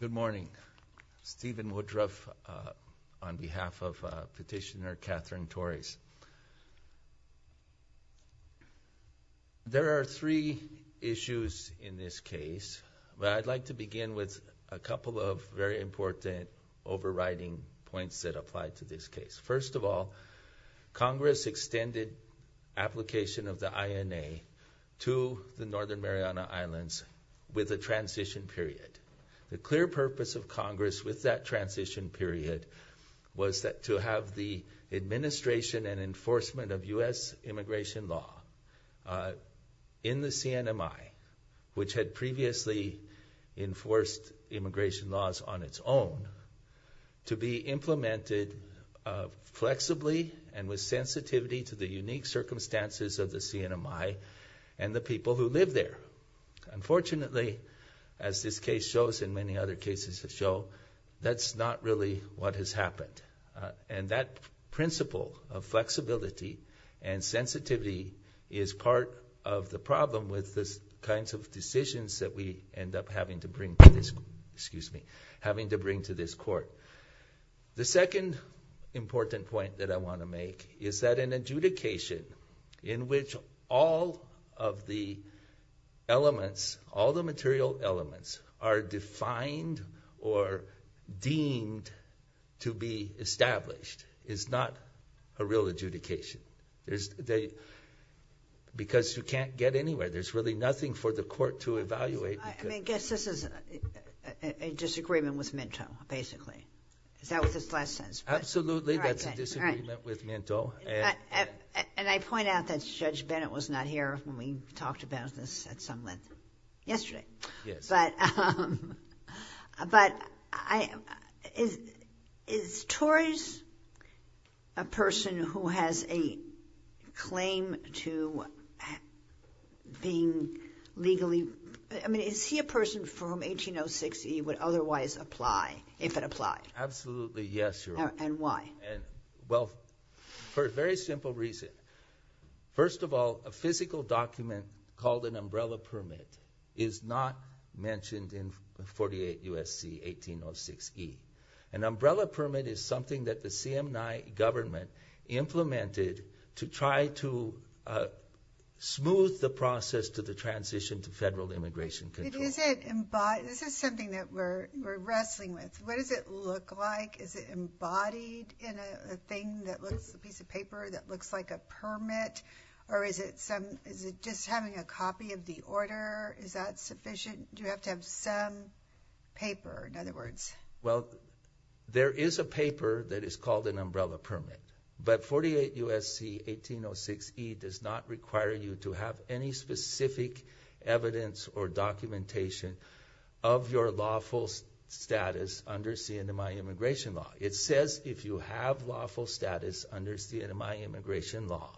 Good morning. Stephen Woodruff on behalf of Petitioner Catherine Torres. There are three issues in this case, but I'd like to begin with a couple of very important overriding points that apply to this case. First of all, Congress extended application of the INA to the Northern Mariana Islands with a transition period. The clear purpose of Congress with that transition period was that to have the administration and enforcement of U.S. immigration law in the CNMI, which had previously enforced immigration laws on its own, to be implemented flexibly and with sensitivity to the unique circumstances of the CNMI and the people who live there. Unfortunately, as this case shows and many other cases that show, that's not really what has happened. And that principle of flexibility and sensitivity is part of the problem with this kinds of decisions that we end up having to bring to this, excuse me, having to bring to this court. The second important point that I want to make is that an adjudication in which all of the elements, all the material elements are defined or deemed to be established is not a real adjudication. Because you can't get anywhere. There's really nothing for the court to evaluate. I guess this is a disagreement with Minto, basically. Is that what this last sentence? Absolutely. That's a disagreement with Minto. And I point out that Judge Bennett was not here when we talked about this at some length yesterday. But is Torres a person who has a claim to being legally, I mean, is he a person from 1806 he would otherwise apply if it applied? Absolutely. Yes. And why? Well, for a very simple reason. First of all, a physical document called an umbrella permit is not mentioned in 48 U.S.C. 1806E. An umbrella permit is something that the CMI government implemented to try to smooth the process to the transition to federal immigration control. Is it, this is something that we're wrestling with. What does it look like? Is it embodied in a thing that looks, a piece of paper that looks like a permit? Or is it some, is it just having a copy of the order? Is that sufficient? Do you have to have some paper, in other words? Well, there is a paper that is called an umbrella permit. But 48 U.S.C. 1806E does not require you to have any specific evidence or documentation of your lawful status under CMI immigration law. It says if you have lawful status under CMI immigration law,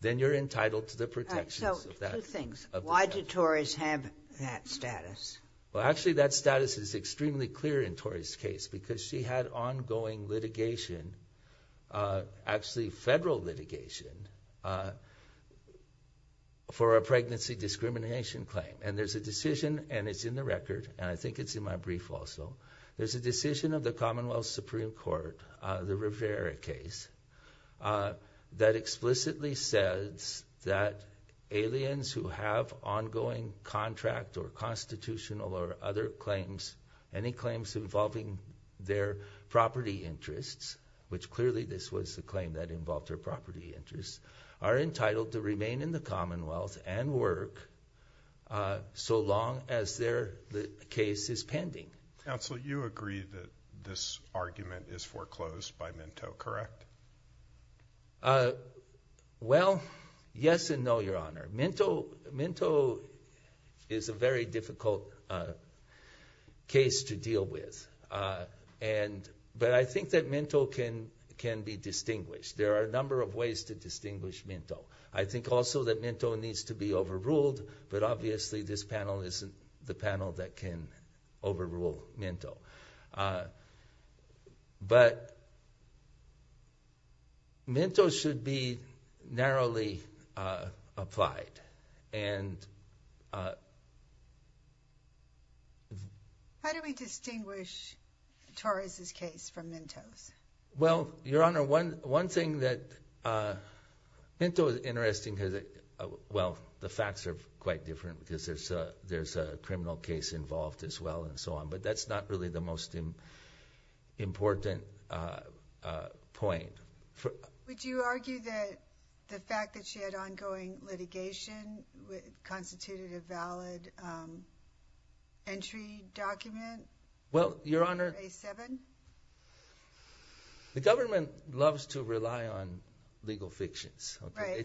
then you're entitled to the protections of that. So, two things. Why do Tories have that status? Well, actually that status is extremely clear in Tori's case because she had ongoing litigation, actually federal litigation, for a pregnancy discrimination claim. And there's a decision, and it's in the record, and I think it's in my brief also, there's a decision of the Commonwealth Supreme Court, the Rivera case, that explicitly says that aliens who have ongoing contract or constitutional or other claims, any claims involving their property interests, which clearly this was the claim that involved their property interests, are entitled to remain in the Commonwealth and work so long as their case is pending. Counsel, you agree that this argument is foreclosed by Minto, correct? Well, yes and no, Your Honor. Minto is a very difficult case to deal with. But I think that Minto can be distinguished. There are a number of ways to distinguish but obviously this panel isn't the panel that can overrule Minto. But Minto should be narrowly applied. How do we distinguish Tori's case from Minto's? Well, Your Honor, one thing that Minto is interesting because, well, the facts are quite different because there's a criminal case involved as well and so on, but that's not really the most important point. Would you argue that the fact that she had ongoing litigation constituted a valid entry document? Well, Your Honor, the government loves to rely on legal fictions.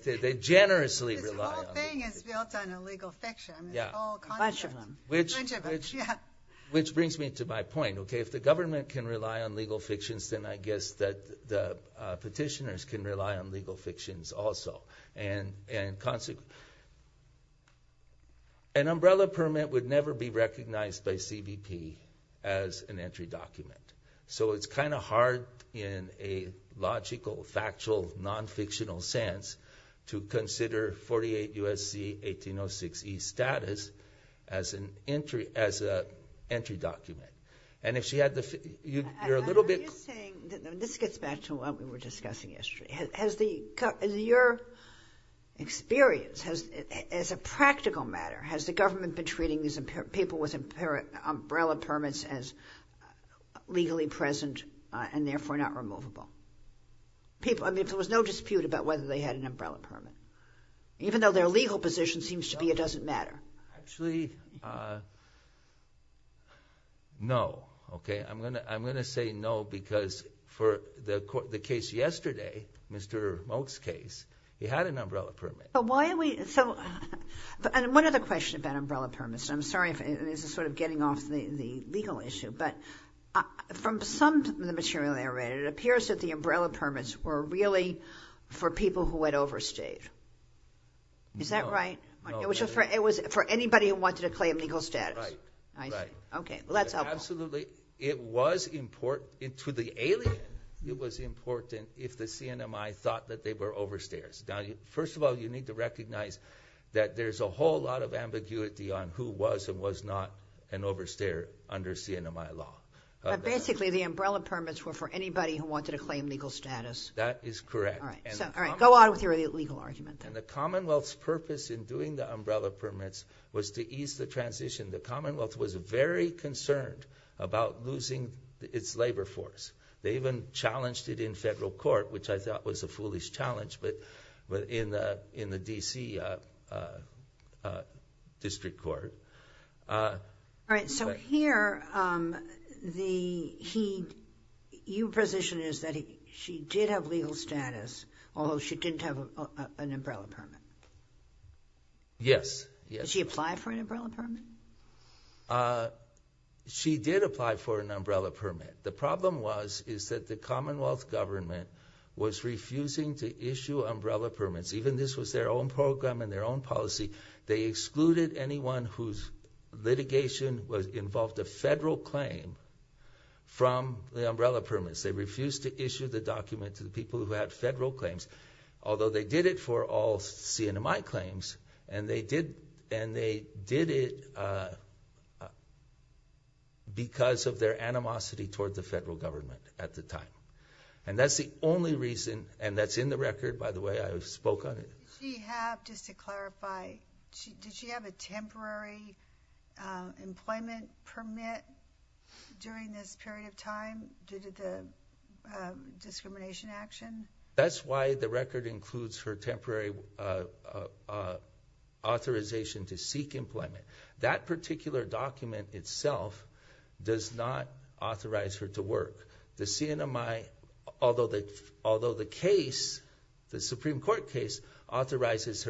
They generously rely on them. This whole thing is built on a legal fiction. Which brings me to my point. If the government can rely on legal fictions, then I guess that petitioners can rely on legal fictions also. An umbrella permit would never be recognized by CBP as an entry document. So it's kind of hard in a logical, factual, non-fictional sense to consider 48 U.S.C. 1806E status as an entry document. And if she had the... You're a little bit... I'm just saying, this gets back to what we were discussing yesterday. Has your experience, as a practical matter, has the government been treating these people with umbrella permits as legally present and therefore not removable? I mean, if there was no dispute about whether they had an umbrella permit, even though their legal position seems to be it doesn't matter. Actually, no. I'm going to say no because for the case yesterday, Mr. Moak's case, he had an umbrella permit. Why are we... One other question about umbrella permits, I'm sorry if this is sort of getting off the legal issue, but from some of the material they read, it appears that the umbrella permits were really for people who had overstayed. No. Is that right? It was for anybody who wanted to claim legal status. Right, right. I see. Okay. Well, that's helpful. Absolutely. It was important to the alien, it was important if the CNMI thought that they were overstayers. Now, first of all, you need to recognize that there's a whole lot of ambiguity on who was and was not an overstayer under CNMI law. But basically, the umbrella permits were for anybody who wanted to claim status. That is correct. All right. Go on with your legal argument. The Commonwealth's purpose in doing the umbrella permits was to ease the transition. The Commonwealth was very concerned about losing its labor force. They even challenged it in federal court, which I thought was a foolish challenge, but in the D.C. District Court. All right. Here, your position is that she did have legal status, although she didn't have an umbrella permit. Yes. Did she apply for an umbrella permit? She did apply for an umbrella permit. The problem was that the Commonwealth government was refusing to issue umbrella permits. Even this was their own program and their own policy. They excluded anyone whose litigation involved a federal claim from the umbrella permits. They refused to issue the document to the people who had federal claims, although they did it for all CNMI claims, and they did it because of their animosity toward the federal government at the time. That's the only reason, and that's in the record, by the way. I spoke on it. Did she have, just to clarify, did she have a temporary employment permit during this period of time due to the discrimination action? That's why the record includes her temporary authorization to seek employment. That particular document itself does not authorize her to work. The CNMI, although the case, the Supreme Court case, authorizes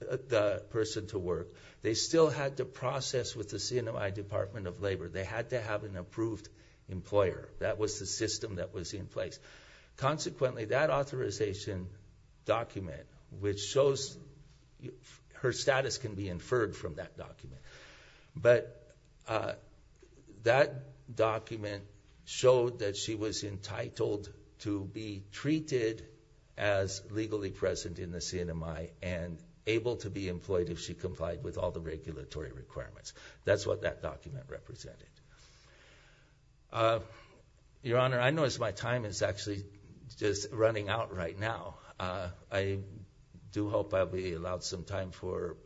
the person to work, they still had to process with the CNMI Department of Labor. They had to have an approved employer. That was the system that was in place. Consequently, that authorization document, which shows her status can be inferred from that document, but that document showed that she was entitled to be treated as legally present in the CNMI and able to be employed if she complied with all the regulatory requirements. That's what that document represented. Your Honor, I notice my time is actually just running out right now. I do hope I'll be allowed some time for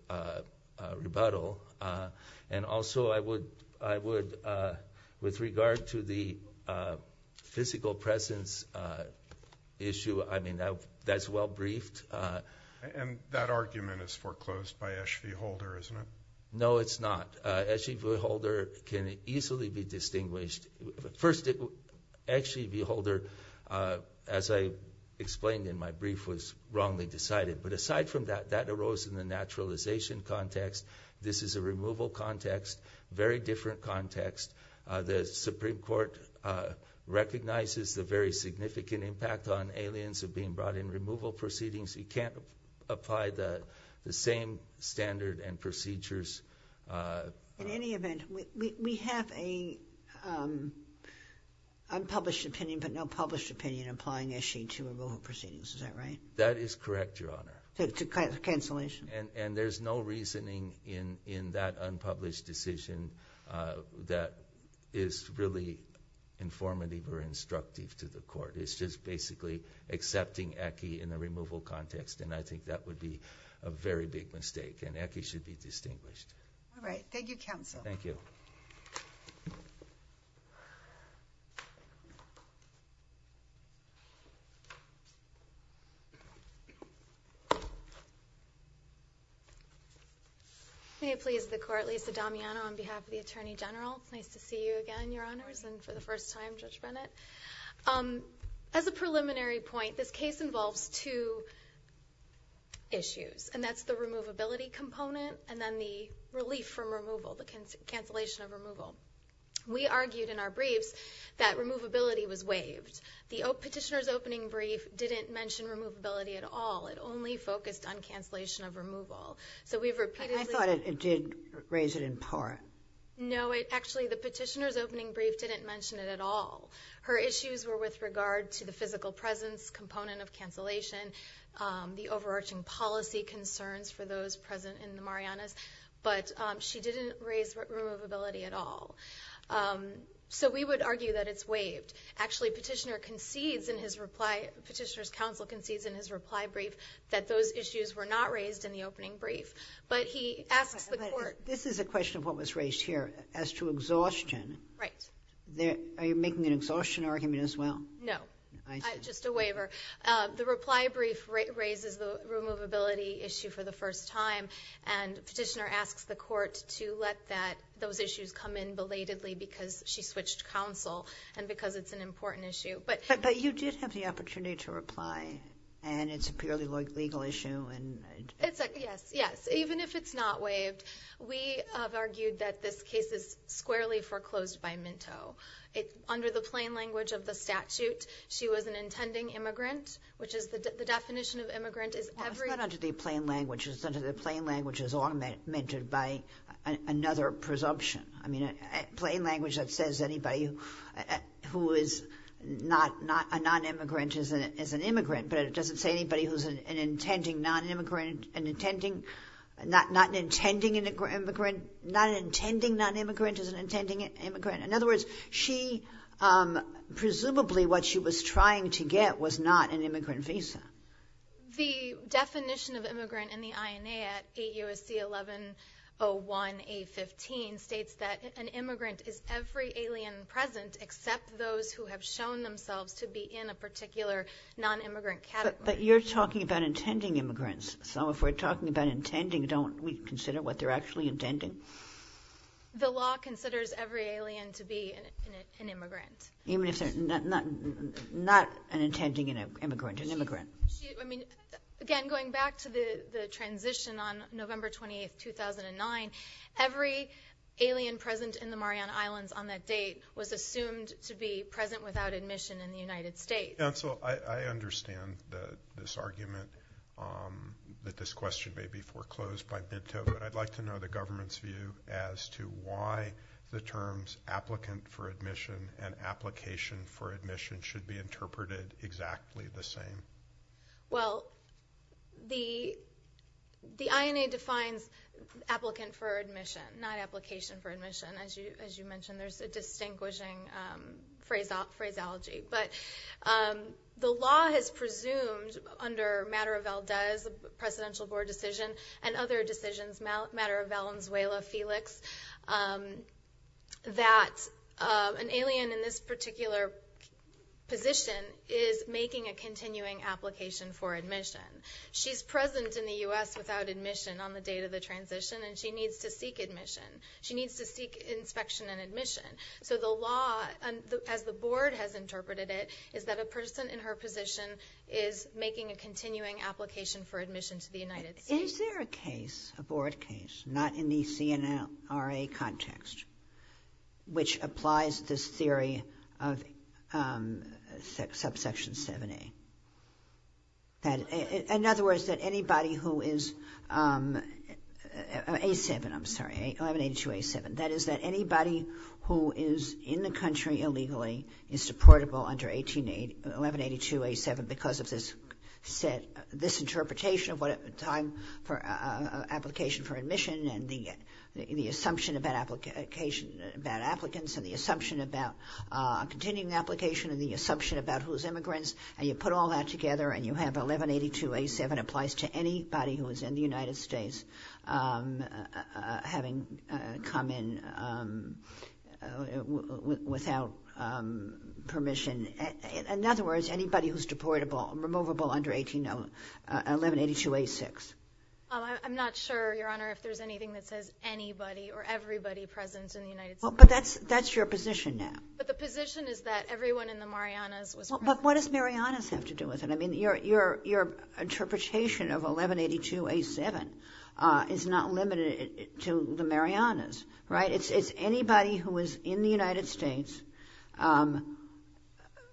rebuttal. Also, with regard to the physical presence issue, that's well briefed. That argument is foreclosed by Esh V. Holder, isn't it? No, it's not. Esh V. Holder can easily be distinguished. First, Esh V. Holder, as I explained in my brief, was wrongly decided. Aside from that, that arose in the naturalization context. This is a removal context, very different context. The Supreme Court recognizes the very significant impact on aliens of being brought in removal proceedings. You can't apply the same standard and procedures. In any event, we have an unpublished opinion, but no published opinion, applying Esh V. Holder to removal proceedings. Is that right? That is correct, Your Honor. It's a cancellation? There's no reasoning in that unpublished decision that is really informative or instructive to the court. It's just basically accepting in the removal context. I think that would be a very big mistake, and Esh V. Holder should be distinguished. All right. Thank you, counsel. Thank you. May it please the court, Lisa Damiano on behalf of the Attorney General. Nice to see you again, Your Honors, and for the first time, Judge Bennett. As a preliminary point, this case involves two issues, and that's the removability component and then the relief from removal, the cancellation of removal. We argued in our briefs that removability was waived. The petitioner's opening brief didn't mention removability at all. It only focused on cancellation of removal. I thought it did raise it in part. No. Actually, the petitioner's opening brief didn't mention it at all. Her issues were with regard to the physical presence component of cancellation, the overarching policy concerns for those present in the Marianas, but she didn't raise removability at all. We would argue that it's waived. Actually, the petitioner's counsel but he asks the court. This is a question of what was raised here as to exhaustion. Right. Are you making an exhaustion argument as well? No. I see. Just a waiver. The reply brief raises the removability issue for the first time, and petitioner asks the court to let those issues come in belatedly because she switched counsel and because it's an important issue. But you did have the opportunity to reply, and it's a purely legal issue. Yes. Even if it's not waived, we have argued that this case is squarely foreclosed by Minto. Under the plain language of the statute, she was an intending immigrant, which is the definition of immigrant is every- It's not under the plain language. It's under the plain language as augmented by another presumption. I mean, plain language that says anybody who is not a non-immigrant is an immigrant, but it doesn't say anybody who's an intending non-immigrant is an intending immigrant. In other words, presumably what she was trying to get was not an immigrant visa. The definition of immigrant in the INA at 8 U.S.C. 1101 A-15 states that an immigrant is every alien present except those who have shown themselves to be in a particular non-immigrant category. But you're talking about intending immigrants, so if we're talking about intending, don't we consider what they're actually intending? The law considers every alien to be an immigrant. Even if they're not an intending immigrant, an immigrant. Again, going back to the transition on November 28, 2009, every alien present in the Mariana Islands on that date was assumed to be present without admission in the United States. Counsel, I understand this argument that this question may be foreclosed by Minto, but I'd like to know the government's view as to why the terms applicant for admission and application for admission should be interpreted exactly the same. Well, the INA defines applicant for admission, not application for admission. As you mentioned, there's a distinguishing phraseology. But the law has presumed under Matter of Valdez, presidential board decision, and other decisions, Matter of Valenzuela, Felix, that an alien in this particular position is making a continuing application for admission. She's present in the U.S. without admission on the date of the transition, and she needs to seek admission. She needs to seek inspection and admission. So the law, as the board has interpreted it, is that a person in her position is making a continuing application for admission to the United States. Is there a case, a board case, not in the CNRA context, which applies this theory of subsection 7A? In other words, that anybody who is, A7, I'm sorry, 1182A7, that is that anybody who is in the country illegally is deportable under 1182A7 because of this set, this interpretation of what time for application for admission, and the assumption about application, about applicants, and the assumption about continuing application, and the assumption about who's immigrants, and you put all that together, and you have 1182A7 applies to anybody who is in the United States having come in without permission. In other words, anybody who's deportable, removable under 1182A6. I'm not sure, Your Honor, if there's anything that says anybody or everybody present in the United States. But that's your position now. But the position is that everyone in the Marianas was present. But what does Marianas have to do with it? I mean, your interpretation of 1182A7 is not limited to the Marianas, right? It's anybody who is in the United States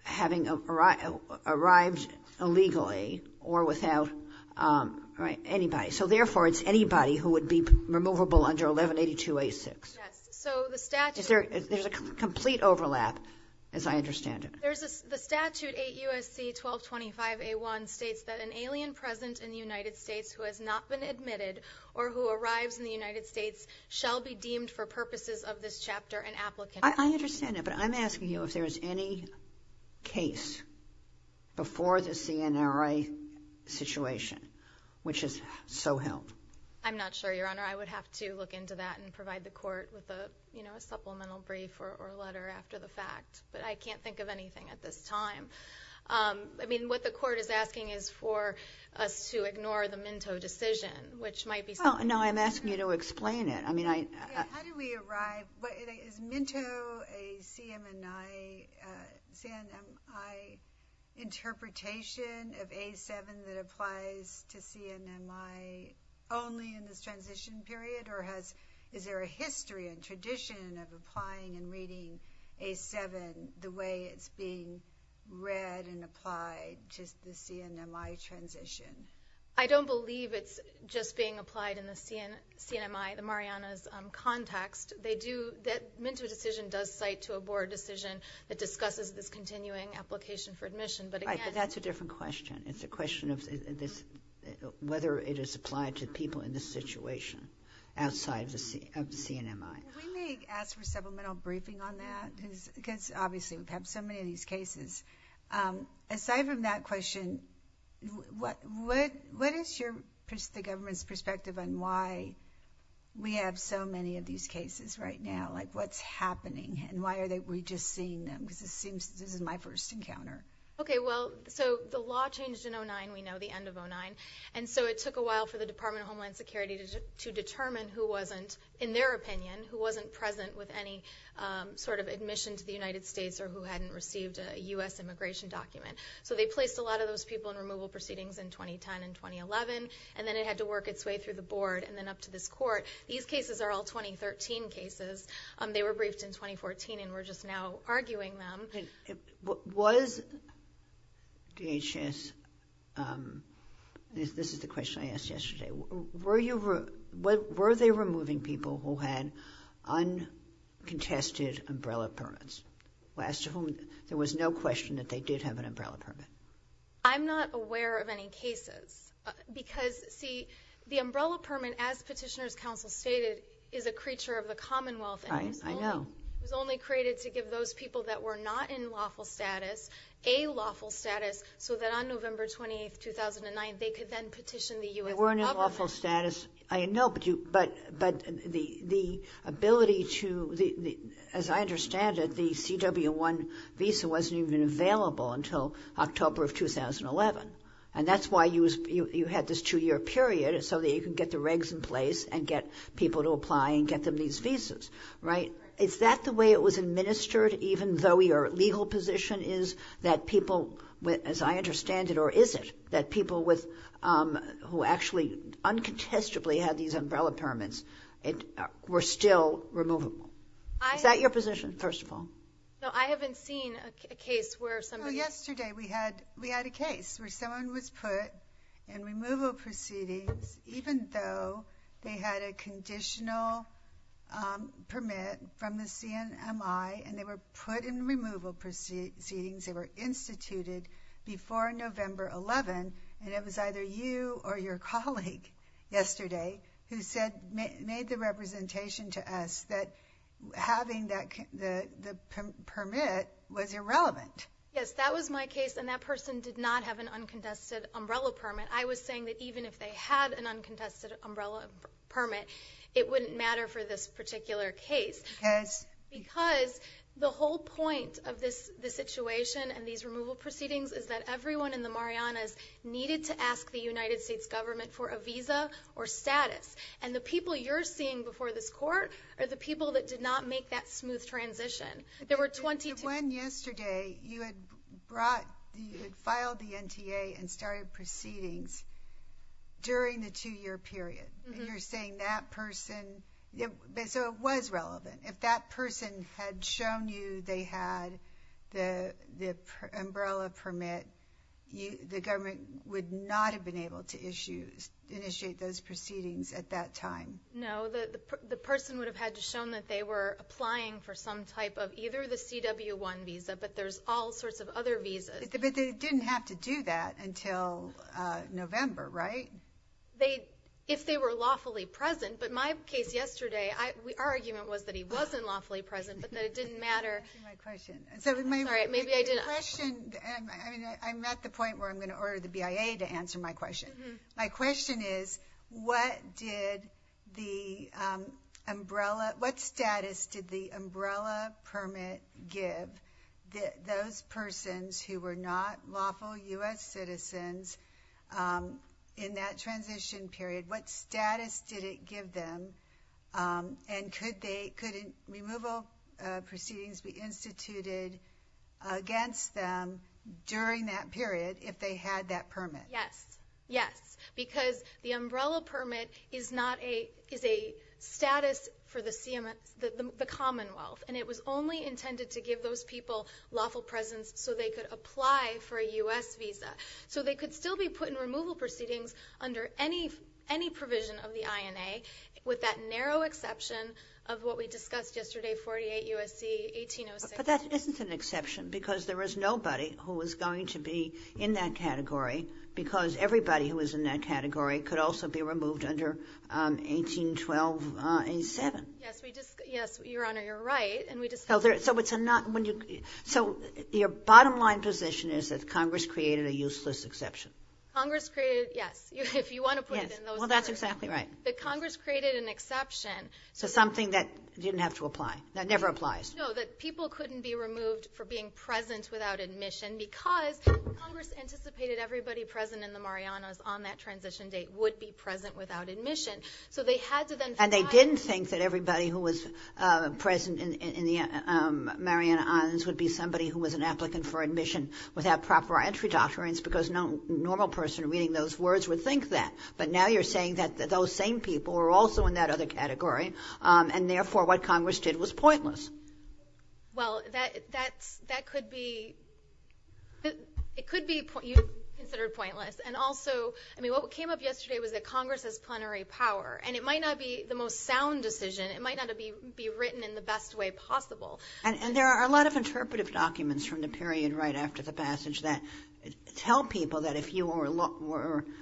having arrived illegally or without, right, anybody. So therefore, it's anybody who would be removable under 1182A6. Yes. So the statute- There's a complete overlap, as I understand it. There's a, the statute 8 U.S.C. 1225A1 states that an alien present in the United States who has not been admitted or who arrives in the United States shall be deemed for purposes of this chapter an applicant. I understand that. But I'm asking you if there is any case before the CNRA situation, which is so held. I'm not sure, Your Honor. I would have to look into that and provide the court with a, you know, a supplemental brief or letter after the fact. But I can't think of anything at this time. I mean, what the court is asking is for us to ignore the Minto decision, which might be- Well, no, I'm asking you to explain it. I mean, I- How do we arrive? Is Minto a CMMI, CMMI interpretation of A7 that applies to CMMI only in this transition period? Or has, is there a history and tradition of applying and reading A7 the way it's being read and applied to the CMMI transition? I don't believe it's just being applied in the CMMI, the Marianas context. They do, that Minto decision does cite to a board decision that discusses this continuing application for admission. But again- Right, but that's a different question. It's a question of this, whether it is applied to people in this situation outside of the CMMI. We may ask for supplemental briefing on that, because obviously we've had so many of these cases. Aside from that question, what is your, the government's perspective on why we have so many of these cases right now? Like, what's happening and why are we just seeing them? Because it seems this is my first encounter. Okay, well, so the law changed in 09, we know, the end of 09. And so it took a while for the Department of Homeland Security to determine who wasn't, in their opinion, who wasn't present with any sort of admission to the United States or who hadn't received a U.S. immigration document. So they placed a lot of those people in removal proceedings in 2010 and 2011, and then it had to work its way through the board and then up to this court. These cases are all 2013 cases. They were briefed in 2014 and we're just now arguing them. Was DHS, this is the question I asked yesterday, were you, were they removing people who had uncontested umbrella permits? As to whom, there was no question that they did have an umbrella permit. I'm not aware of any cases. Because, see, the umbrella permit, as Petitioner's Counsel stated, is a creature of the Commonwealth. Right, I know. It was only created to give those people that were not in lawful status, a lawful status, so that on November 28, 2009, they could then petition the U.S. government. They weren't in lawful status, I know, but the ability to, as I understand it, the CW-1 visa wasn't even available until October of 2011. And that's why you had this two-year period, so that you can get the regs in place and get people to apply and get them these visas, right? Is that the way it was administered, even though your legal position is that people, as I understand it, or is it, that people with, who actually uncontestably had these umbrella permits, were still removable? Is that your position, first of all? No, I haven't seen a case where somebody... Well, yesterday we had a case where someone was put in removal proceedings, even though they had a conditional permit from the CNMI, and they were put in removal proceedings, they were instituted before November 11, and it was either you or your colleague yesterday who said, made the representation to us that having that permit was irrelevant. Yes, that was my case, and that person did not have an uncontested umbrella permit. I was saying that even if they had an uncontested umbrella permit, it wouldn't matter for this particular case, because the whole point of this situation and these removal proceedings is that everyone in the Marianas needed to ask the United States government for a visa or status, and the people you're seeing before this court are the people that did not make that smooth transition. There were 22... You had filed the NTA and started proceedings during the two-year period, and you're saying that person... So it was relevant. If that person had shown you they had the umbrella permit, the government would not have been able to initiate those proceedings at that time. No, the person would have had shown that they were applying for some type of either the CW-1 visa, but there's all sorts of other visas. But they didn't have to do that until November, right? If they were lawfully present, but my case yesterday, our argument was that he wasn't lawfully present, but that it didn't matter. Let me ask you my question. Sorry, maybe I didn't... Your question... I mean, I'm at the point where I'm going to order the BIA to answer my question. My question is, what status did the umbrella permit give those persons who were not lawful U.S. citizens in that transition period? What status did it give them, and could removal proceedings be instituted against them during that period if they had that permit? Yes, yes, because the umbrella permit is a status for the Commonwealth, and it was only intended to give those people lawful presence so they could apply for a U.S. visa. So they could still be put in removal proceedings under any provision of the INA, with that narrow exception of what we discussed yesterday, 48 U.S.C. 1806. But that isn't an exception, because there was nobody who was going to be in that category because everybody who was in that category could also be removed under 1812.87. Yes, we just... Yes, Your Honor, you're right, and we just... Oh, so it's a not... So your bottom line position is that Congress created a useless exception. Congress created... Yes, if you want to put it in those terms. Yes, well, that's exactly right. That Congress created an exception. So something that didn't have to apply, that never applies. No, that people couldn't be removed for being present without admission because Congress anticipated everybody present in the Marianas on that transition date would be present without admission. So they had to then find... And they didn't think that everybody who was present in the Marianas would be somebody who was an applicant for admission without proper entry doctrines because no normal person reading those words would think that. But now you're saying that those same people were also in Well, that could be... It could be considered pointless. And also, I mean, what came up yesterday was that Congress has plenary power, and it might not be the most sound decision. It might not be written in the best way possible. And there are a lot of interpretive documents from the period right after the passage that tell people that if you were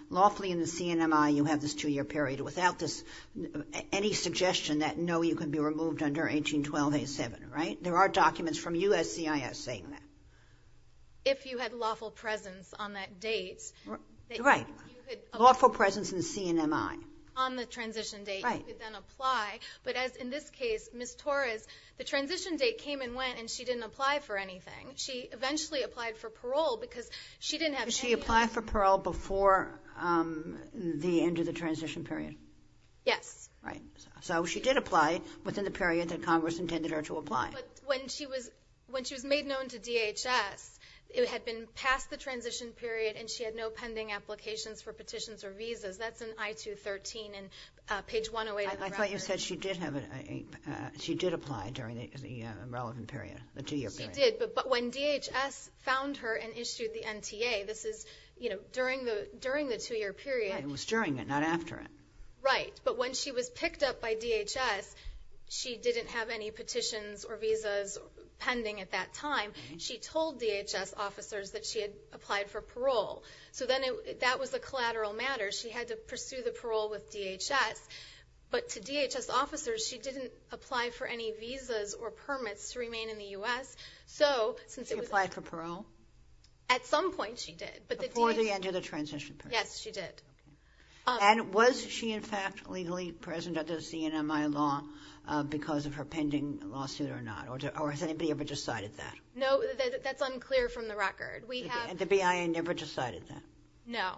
lawfully in the CNMI, you have this two-year period without this any suggestion that, no, you can be removed under 1812-87, right? There are documents from USCIS saying that. If you had lawful presence on that date... Right. Lawful presence in CNMI. On the transition date, you could then apply. But as in this case, Ms. Torres, the transition date came and went, and she didn't apply for anything. She eventually applied for parole because she didn't have... She applied for parole before the end of the transition period. Yes. Right. So she did apply within the period that Congress intended her to apply. But when she was made known to DHS, it had been past the transition period, and she had no pending applications for petitions or visas. That's in I-213, in page 108 of the record. I thought you said she did apply during the relevant period, the two-year period. She did. But when DHS found her and issued the NTA, this is during the two-year period. Right. It was during it, not after it. Right. But when she was picked up by DHS, she didn't have any petitions or visas pending at that time. She told DHS officers that she had applied for parole. So then that was a collateral matter. She had to pursue the parole with DHS. But to DHS officers, she didn't apply for any visas or permits to remain in the U.S. So since it was... She applied for parole? At some point, she did. Before the end of the transition period. Yes, she did. And was she, in fact, legally present under the CNMI law because of her pending lawsuit or not? Or has anybody ever decided that? No, that's unclear from the record. We have... The BIA never decided that? No.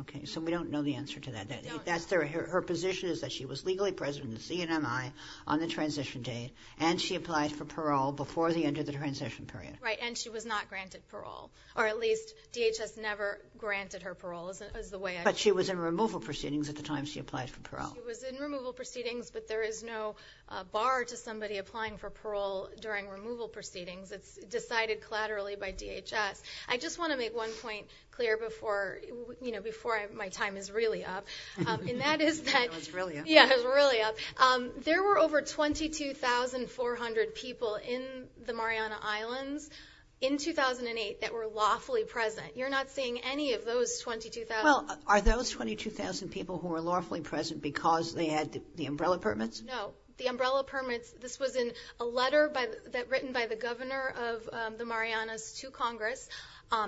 Okay. So we don't know the answer to that. Her position is that she was legally present in the CNMI on the transition date, and she applied for parole before the end of the transition period. Right. And she was not granted parole. Or at least, DHS never granted her parole, is the way I understand it. But she was in removal proceedings at the time she applied for parole. She was in removal proceedings, but there is no bar to somebody applying for parole during removal proceedings. It's decided collaterally by DHS. I just want to make one point clear before my time is really up. And that is that... It's really up. Yeah, it's really up. There were over 22,400 people in the Mariana Islands in 2008 that were lawfully present. You're not seeing any of those 22,000... Are those 22,000 people who were lawfully present because they had the umbrella permits? No. The umbrella permits, this was in a letter written by the governor of the Marianas to Congress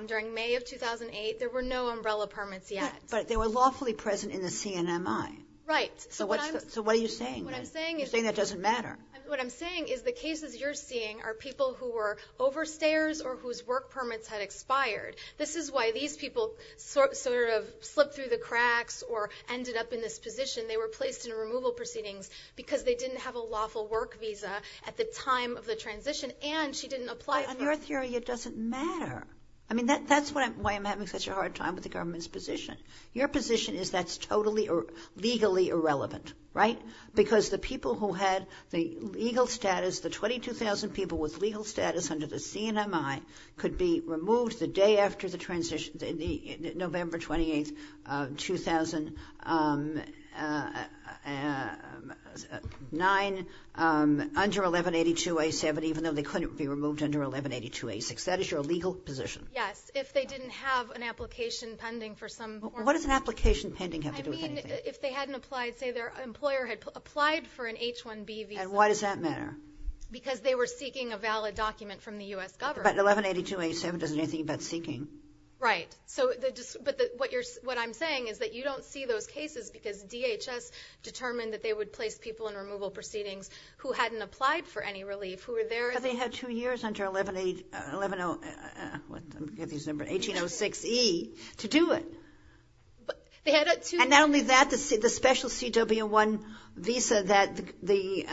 during May of 2008. There were no umbrella permits yet. But they were lawfully present in the CNMI. Right. So what I'm... So what are you saying? What I'm saying is... You're saying that doesn't matter. What I'm saying is the cases you're seeing are people who were overstayers or whose work permits had expired. This is why these people sort of slipped through the cracks or ended up in this position. They were placed in removal proceedings because they didn't have a lawful work visa at the time of the transition. And she didn't apply for... On your theory, it doesn't matter. I mean, that's why I'm having such a hard time with the government's position. Your position is that's totally or legally irrelevant, right? Because the people who had the legal status, the 22,000 people with legal status under the CNMI could be removed the day after the transition, November 28, 2009, under 1182A7, even though they couldn't be removed under 1182A6. That is your legal position. Yes. If they didn't have an application pending for some form of... What does an application pending have to do with anything? I mean, if they hadn't applied, say their employer had applied for an H-1B visa... And why does that matter? Because they were seeking a valid document from the U.S. government. But 1182A7 doesn't do anything about seeking. Right. But what I'm saying is that you don't see those cases because DHS determined that they would place people in removal proceedings who hadn't applied for any relief, who were there... But they had two years under 11806E to do it. And not only that, the special CW-1 visa that the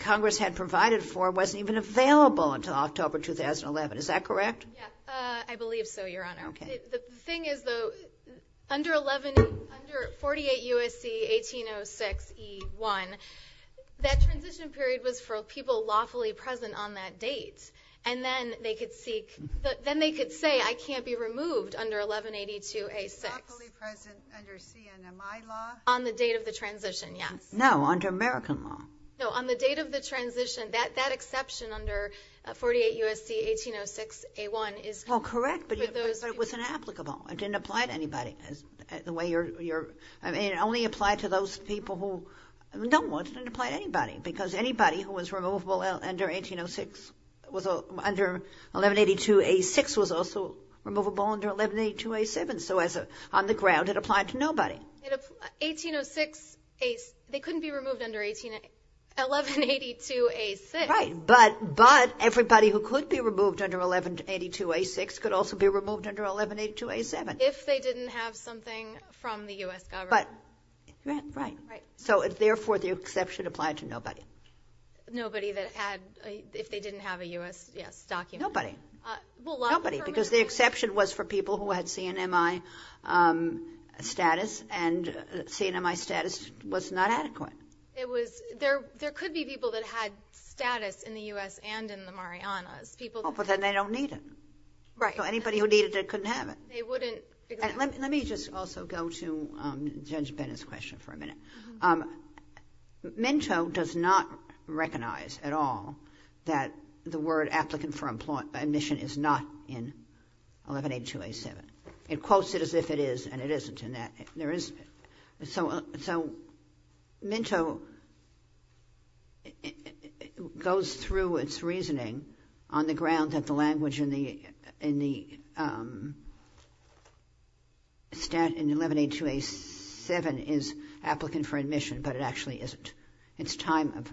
Congress had provided for wasn't even available until October 2011. Is that correct? Yes, I believe so, Your Honor. Okay. The thing is, though, under 48 U.S.C. 1806E1, that transition period was for people lawfully present on that date. And then they could seek... Then they could say, I can't be removed under 1182A6. Lawfully present under CNMI law? On the date of the transition, yes. No, under American law. No, on the date of the transition, that exception under 48 U.S.C. 1806A1 is... Well, correct, but it was inapplicable. It didn't apply to anybody. The way you're... I mean, it only applied to those people who don't want to apply to anybody because anybody who was removable under 1806 was under 1182A6 was also removable under 1182A7. So on the ground, it applied to nobody. 1806, they couldn't be removed under 1182A6. Right, but everybody who could be removed under 1182A6 could also be removed under 1182A7. If they didn't have something from the U.S. government. Right, so therefore, the exception applied to nobody. Nobody that had, if they didn't have a U.S., yes, document. Nobody, nobody, because the exception was for people who had CNMI status and CNMI status was not adequate. It was, there could be people that had status in the U.S. and in the Marianas. People... Oh, but then they don't need it. Right. So anybody who needed it couldn't have it. They wouldn't. Let me just also go to Judge Bennett's question for a minute. Minto does not recognize at all that the word applicant for admission is not in 1182A7. It quotes it as if it is and it isn't in that. There is, so Minto goes through its reasoning on the ground that the language in the stat in 1182A7 is applicant for admission, but it actually isn't. It's time of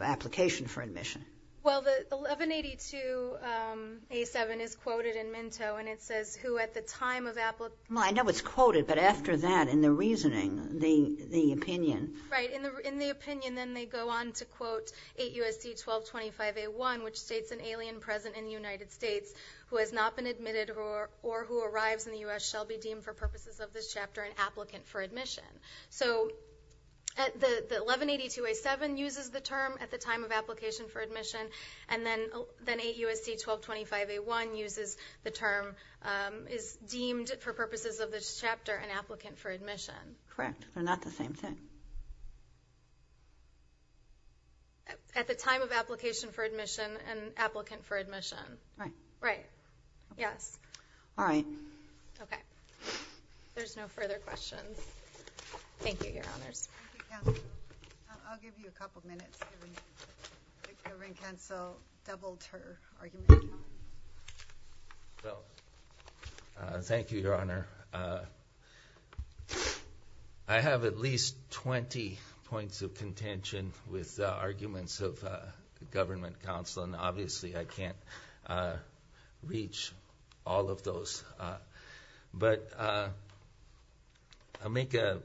application for admission. Well, the 1182A7 is quoted in Minto and it says, who at the time of application... I know it's quoted, but after that in the reasoning, the opinion... Right. In the opinion, then they go on to quote 8 U.S.C. 1225A1, which states an alien present in the United States who has not been admitted or who arrives in the U.S. shall be deemed for purposes of this chapter an applicant for admission. So the 1182A7 uses the term at the time of application for admission and then 8 U.S.C. 1225A1 uses the term is deemed for purposes of this chapter an applicant for admission. Correct, but not the same thing. At the time of application for admission, an applicant for admission. Right. Right. Yes. All right. Okay. There's no further questions. Thank you, Your Honors. Thank you, Counselor. I'll give you a couple of minutes given that the Governing Council doubled her argument. Well, thank you, Your Honor. I have at least 20 points of contention with the arguments of the Government Council and obviously I can't reach all of those. But I'll make a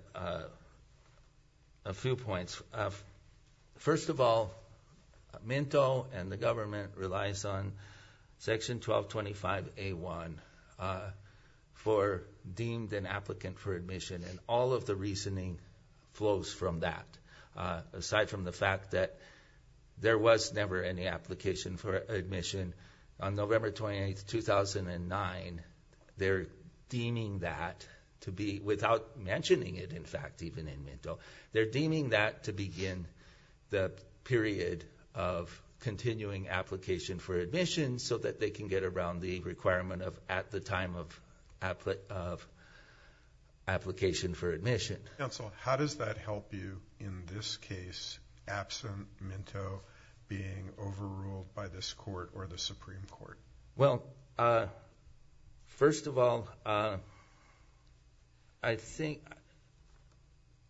few points. First of all, Minto and the government relies on Section 1225A1 for deemed an applicant for admission and all of the reasoning flows from that. Aside from the fact that there was never any application for admission on November 28, 2009, they're deeming that to be, without mentioning it, in fact, even in Minto, they're deeming that to begin the period of continuing application for admission so that they can get around the requirement of at the time of application for admission. Counsel, how does that help you in this case, absent Minto being overruled by this court or the Supreme Court? Well, first of all, I think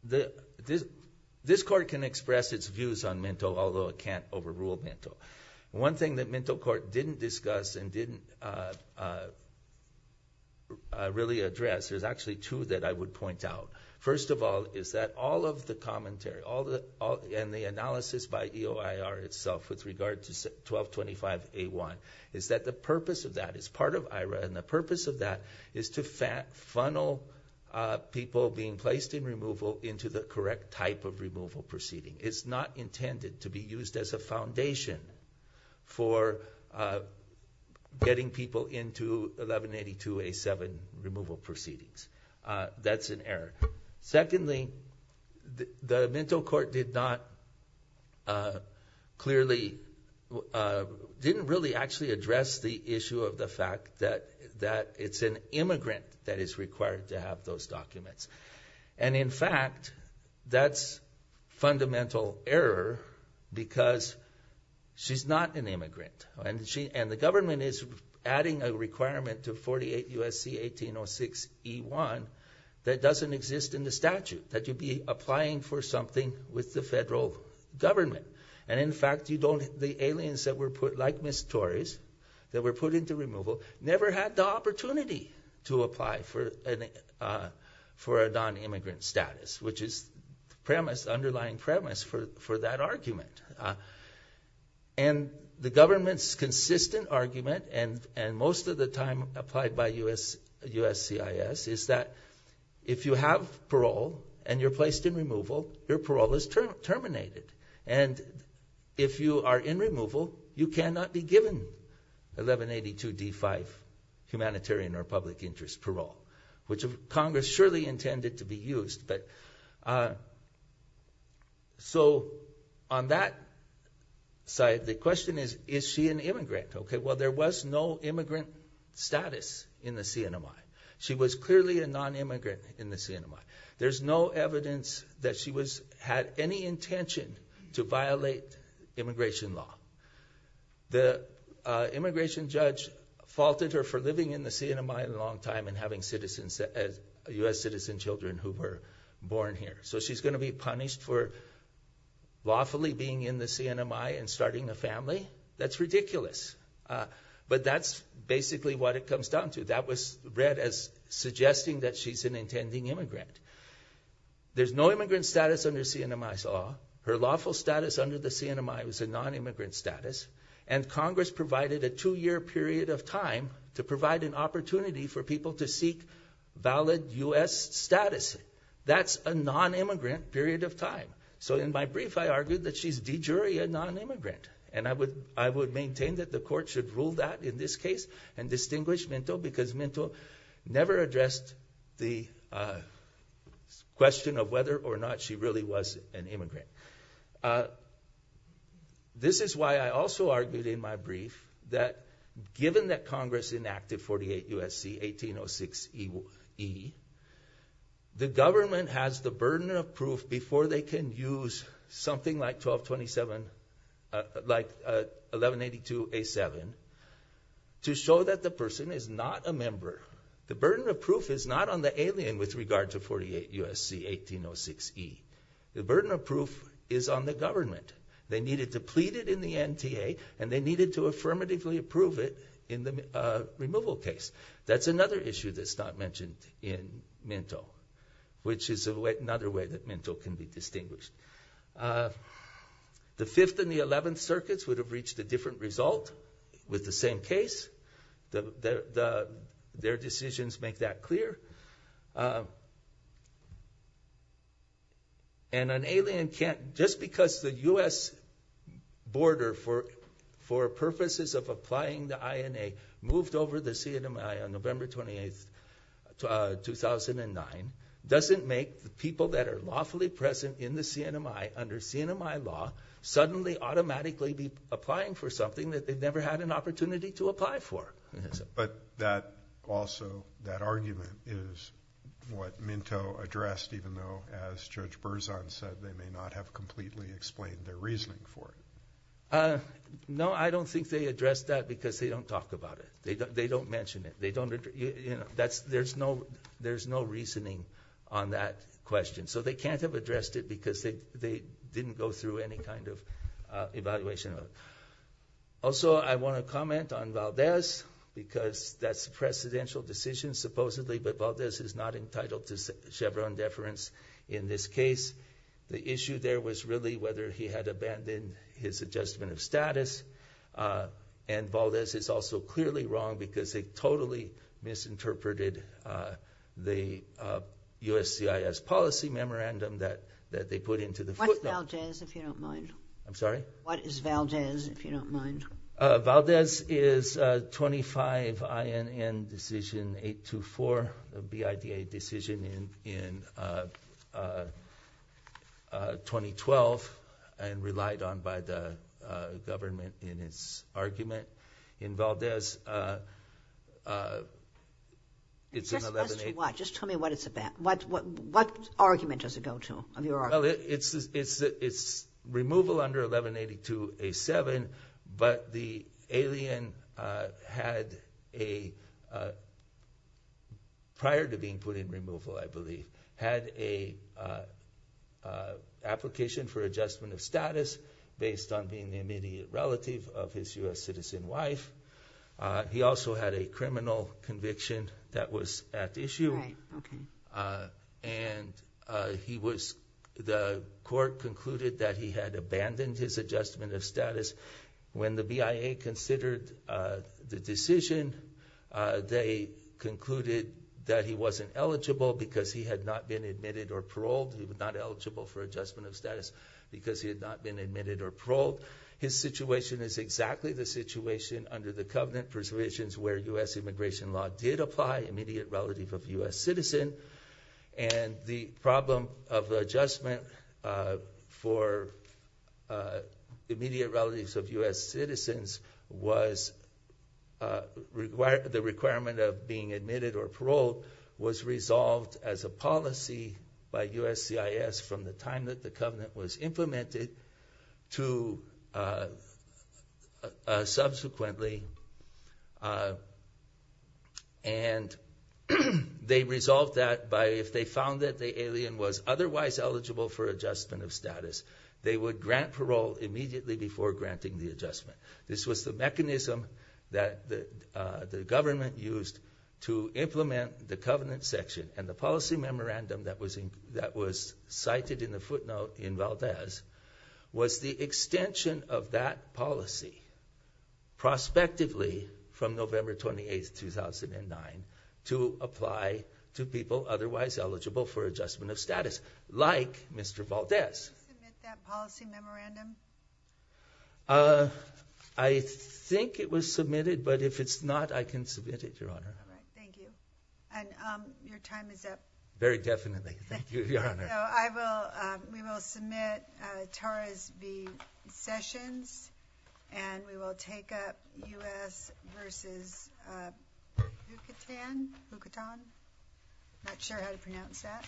this court can express its views on Minto, although it can't overrule Minto. One thing that Minto Court didn't discuss and didn't really address, there's actually two that I would point out. First of all, is that all of the commentary and the analysis by EOIR itself with regard to 1225A1, is that the purpose of that is part of EOIR and the purpose of that is to funnel people being placed in removal into the correct type of removal proceeding. It's not intended to be used as a foundation for getting people into 1182A7 removal proceedings. That's an error. Secondly, the Minto Court didn't really actually address the issue of the fact that it's an immigrant that is required to have those documents. In fact, that's fundamental error because she's not an immigrant and the government is adding a requirement to 48 U.S.C. 1806E1 that doesn't exist in the statute, that you'd be applying for something with the federal government. In fact, the aliens that were put, like Ms. Torres, that were put into removal, never had the opportunity to apply for a non-immigrant status, which is the underlying premise for that argument. The government's consistent argument, and most of the time applied by USCIS, is that if you have parole and you're placed in removal, your parole is terminated. If you are in removal, you cannot be given 1182D5 humanitarian or public interest parole, which Congress surely intended to be used. But so on that side, the question is, is she an immigrant? Okay, well, there was no immigrant status in the CNMI. She was clearly a non-immigrant in the CNMI. There's no evidence that she had any intention to violate immigration law. The immigration judge faulted her for living in the CNMI a long time and having U.S. citizen children who were born here. So she's going to be punished for lawfully being in the CNMI and starting a family? That's ridiculous. But that's basically what it comes down to. That was read as suggesting that she's an intending immigrant. There's no immigrant status under CNMI's law. Her lawful status under the CNMI was a non-immigrant status, and Congress provided a two-year period of time to provide an opportunity for people to seek valid U.S. status. That's a non-immigrant period of time. So in my brief, I argued that she's de jure a non-immigrant. And I would maintain that the court should rule that in this case and distinguish Minto because Minto never addressed the question of whether or not she really was an immigrant. This is why I also argued in my brief that given that Congress enacted 48 U.S.C. 1806 E, the government has the burden of proof before they can use something like 1227, like 1182 A7, to show that the person is not a member. The burden of proof is not on the alien with regard to 48 U.S.C. 1806 E. The burden of proof is on the government. They needed to plead it in the NTA, and they needed to affirmatively approve it in the removal case. That's another issue that's not mentioned in Minto, which is another way that Minto can be distinguished. The 5th and the 11th circuits would have reached a different result with the same case. Their decisions make that clear. And an alien can't, just because the U.S. border for purposes of applying the INA moved over the CNMI on November 28, 2009, doesn't make the people that are lawfully present in the CNMI under CNMI law suddenly automatically be applying for something that they've never had an opportunity to apply for. But that also, that argument is what Minto addressed, even though, as Judge Berzon said, they may not have completely explained their reasoning for it. No, I don't think they addressed that because they don't talk about it. They don't mention it. They don't, you know, that's, there's no, there's no reasoning on that question. So they can't have addressed it because they didn't go through any kind of evaluation. Also, I want to comment on Valdez, because that's a presidential decision, supposedly, but Valdez is not entitled to Chevron deference in this case. The issue there was really whether he had abandoned his adjustment of status. And Valdez is also clearly wrong because they totally misinterpreted the USCIS policy memorandum that, that they put into the footnote. What's Valdez, if you don't mind? I'm sorry? What is Valdez, if you don't mind? Valdez is 25 INN decision 824, the BIDA decision in, in 2012, and relied on by the government in its argument. In Valdez, it's an 11-8- Just tell me what it's about. What, what, what argument does it go to, of your argument? It's, it's, it's removal under 11-82-A-7, but the alien had a, prior to being put in removal, I believe, had a application for adjustment of status based on being the immediate relative of his U.S. citizen wife. He also had a criminal conviction that was at issue. And he was, the court concluded that he had abandoned his adjustment of status. When the BIA considered the decision, they concluded that he wasn't eligible because he had not been admitted or paroled. He was not eligible for adjustment of status because he had not been admitted or paroled. His situation is exactly the situation under the covenant preservations where U.S. immigration law did apply, immediate relative of U.S. citizen, and the problem of the adjustment for immediate relatives of U.S. citizens was, the requirement of being admitted or paroled was resolved as a policy by USCIS from the time that the covenant was implemented to the, subsequently, and they resolved that by, if they found that the alien was otherwise eligible for adjustment of status, they would grant parole immediately before granting the adjustment. This was the mechanism that the, the government used to implement the covenant section and the policy memorandum that was in, that was cited in the footnote in Valdez was the extension of that policy, prospectively, from November 28th, 2009, to apply to people otherwise eligible for adjustment of status, like Mr. Valdez. Did you submit that policy memorandum? I think it was submitted, but if it's not, I can submit it, Your Honor. Thank you. And, um, your time is up. Very definitely. Thank you, Your Honor. I will, um, we will submit, uh, Tara's v. Sessions, and we will take up U.S. versus, uh, Bukatan? Bukatan? Not sure how to pronounce that.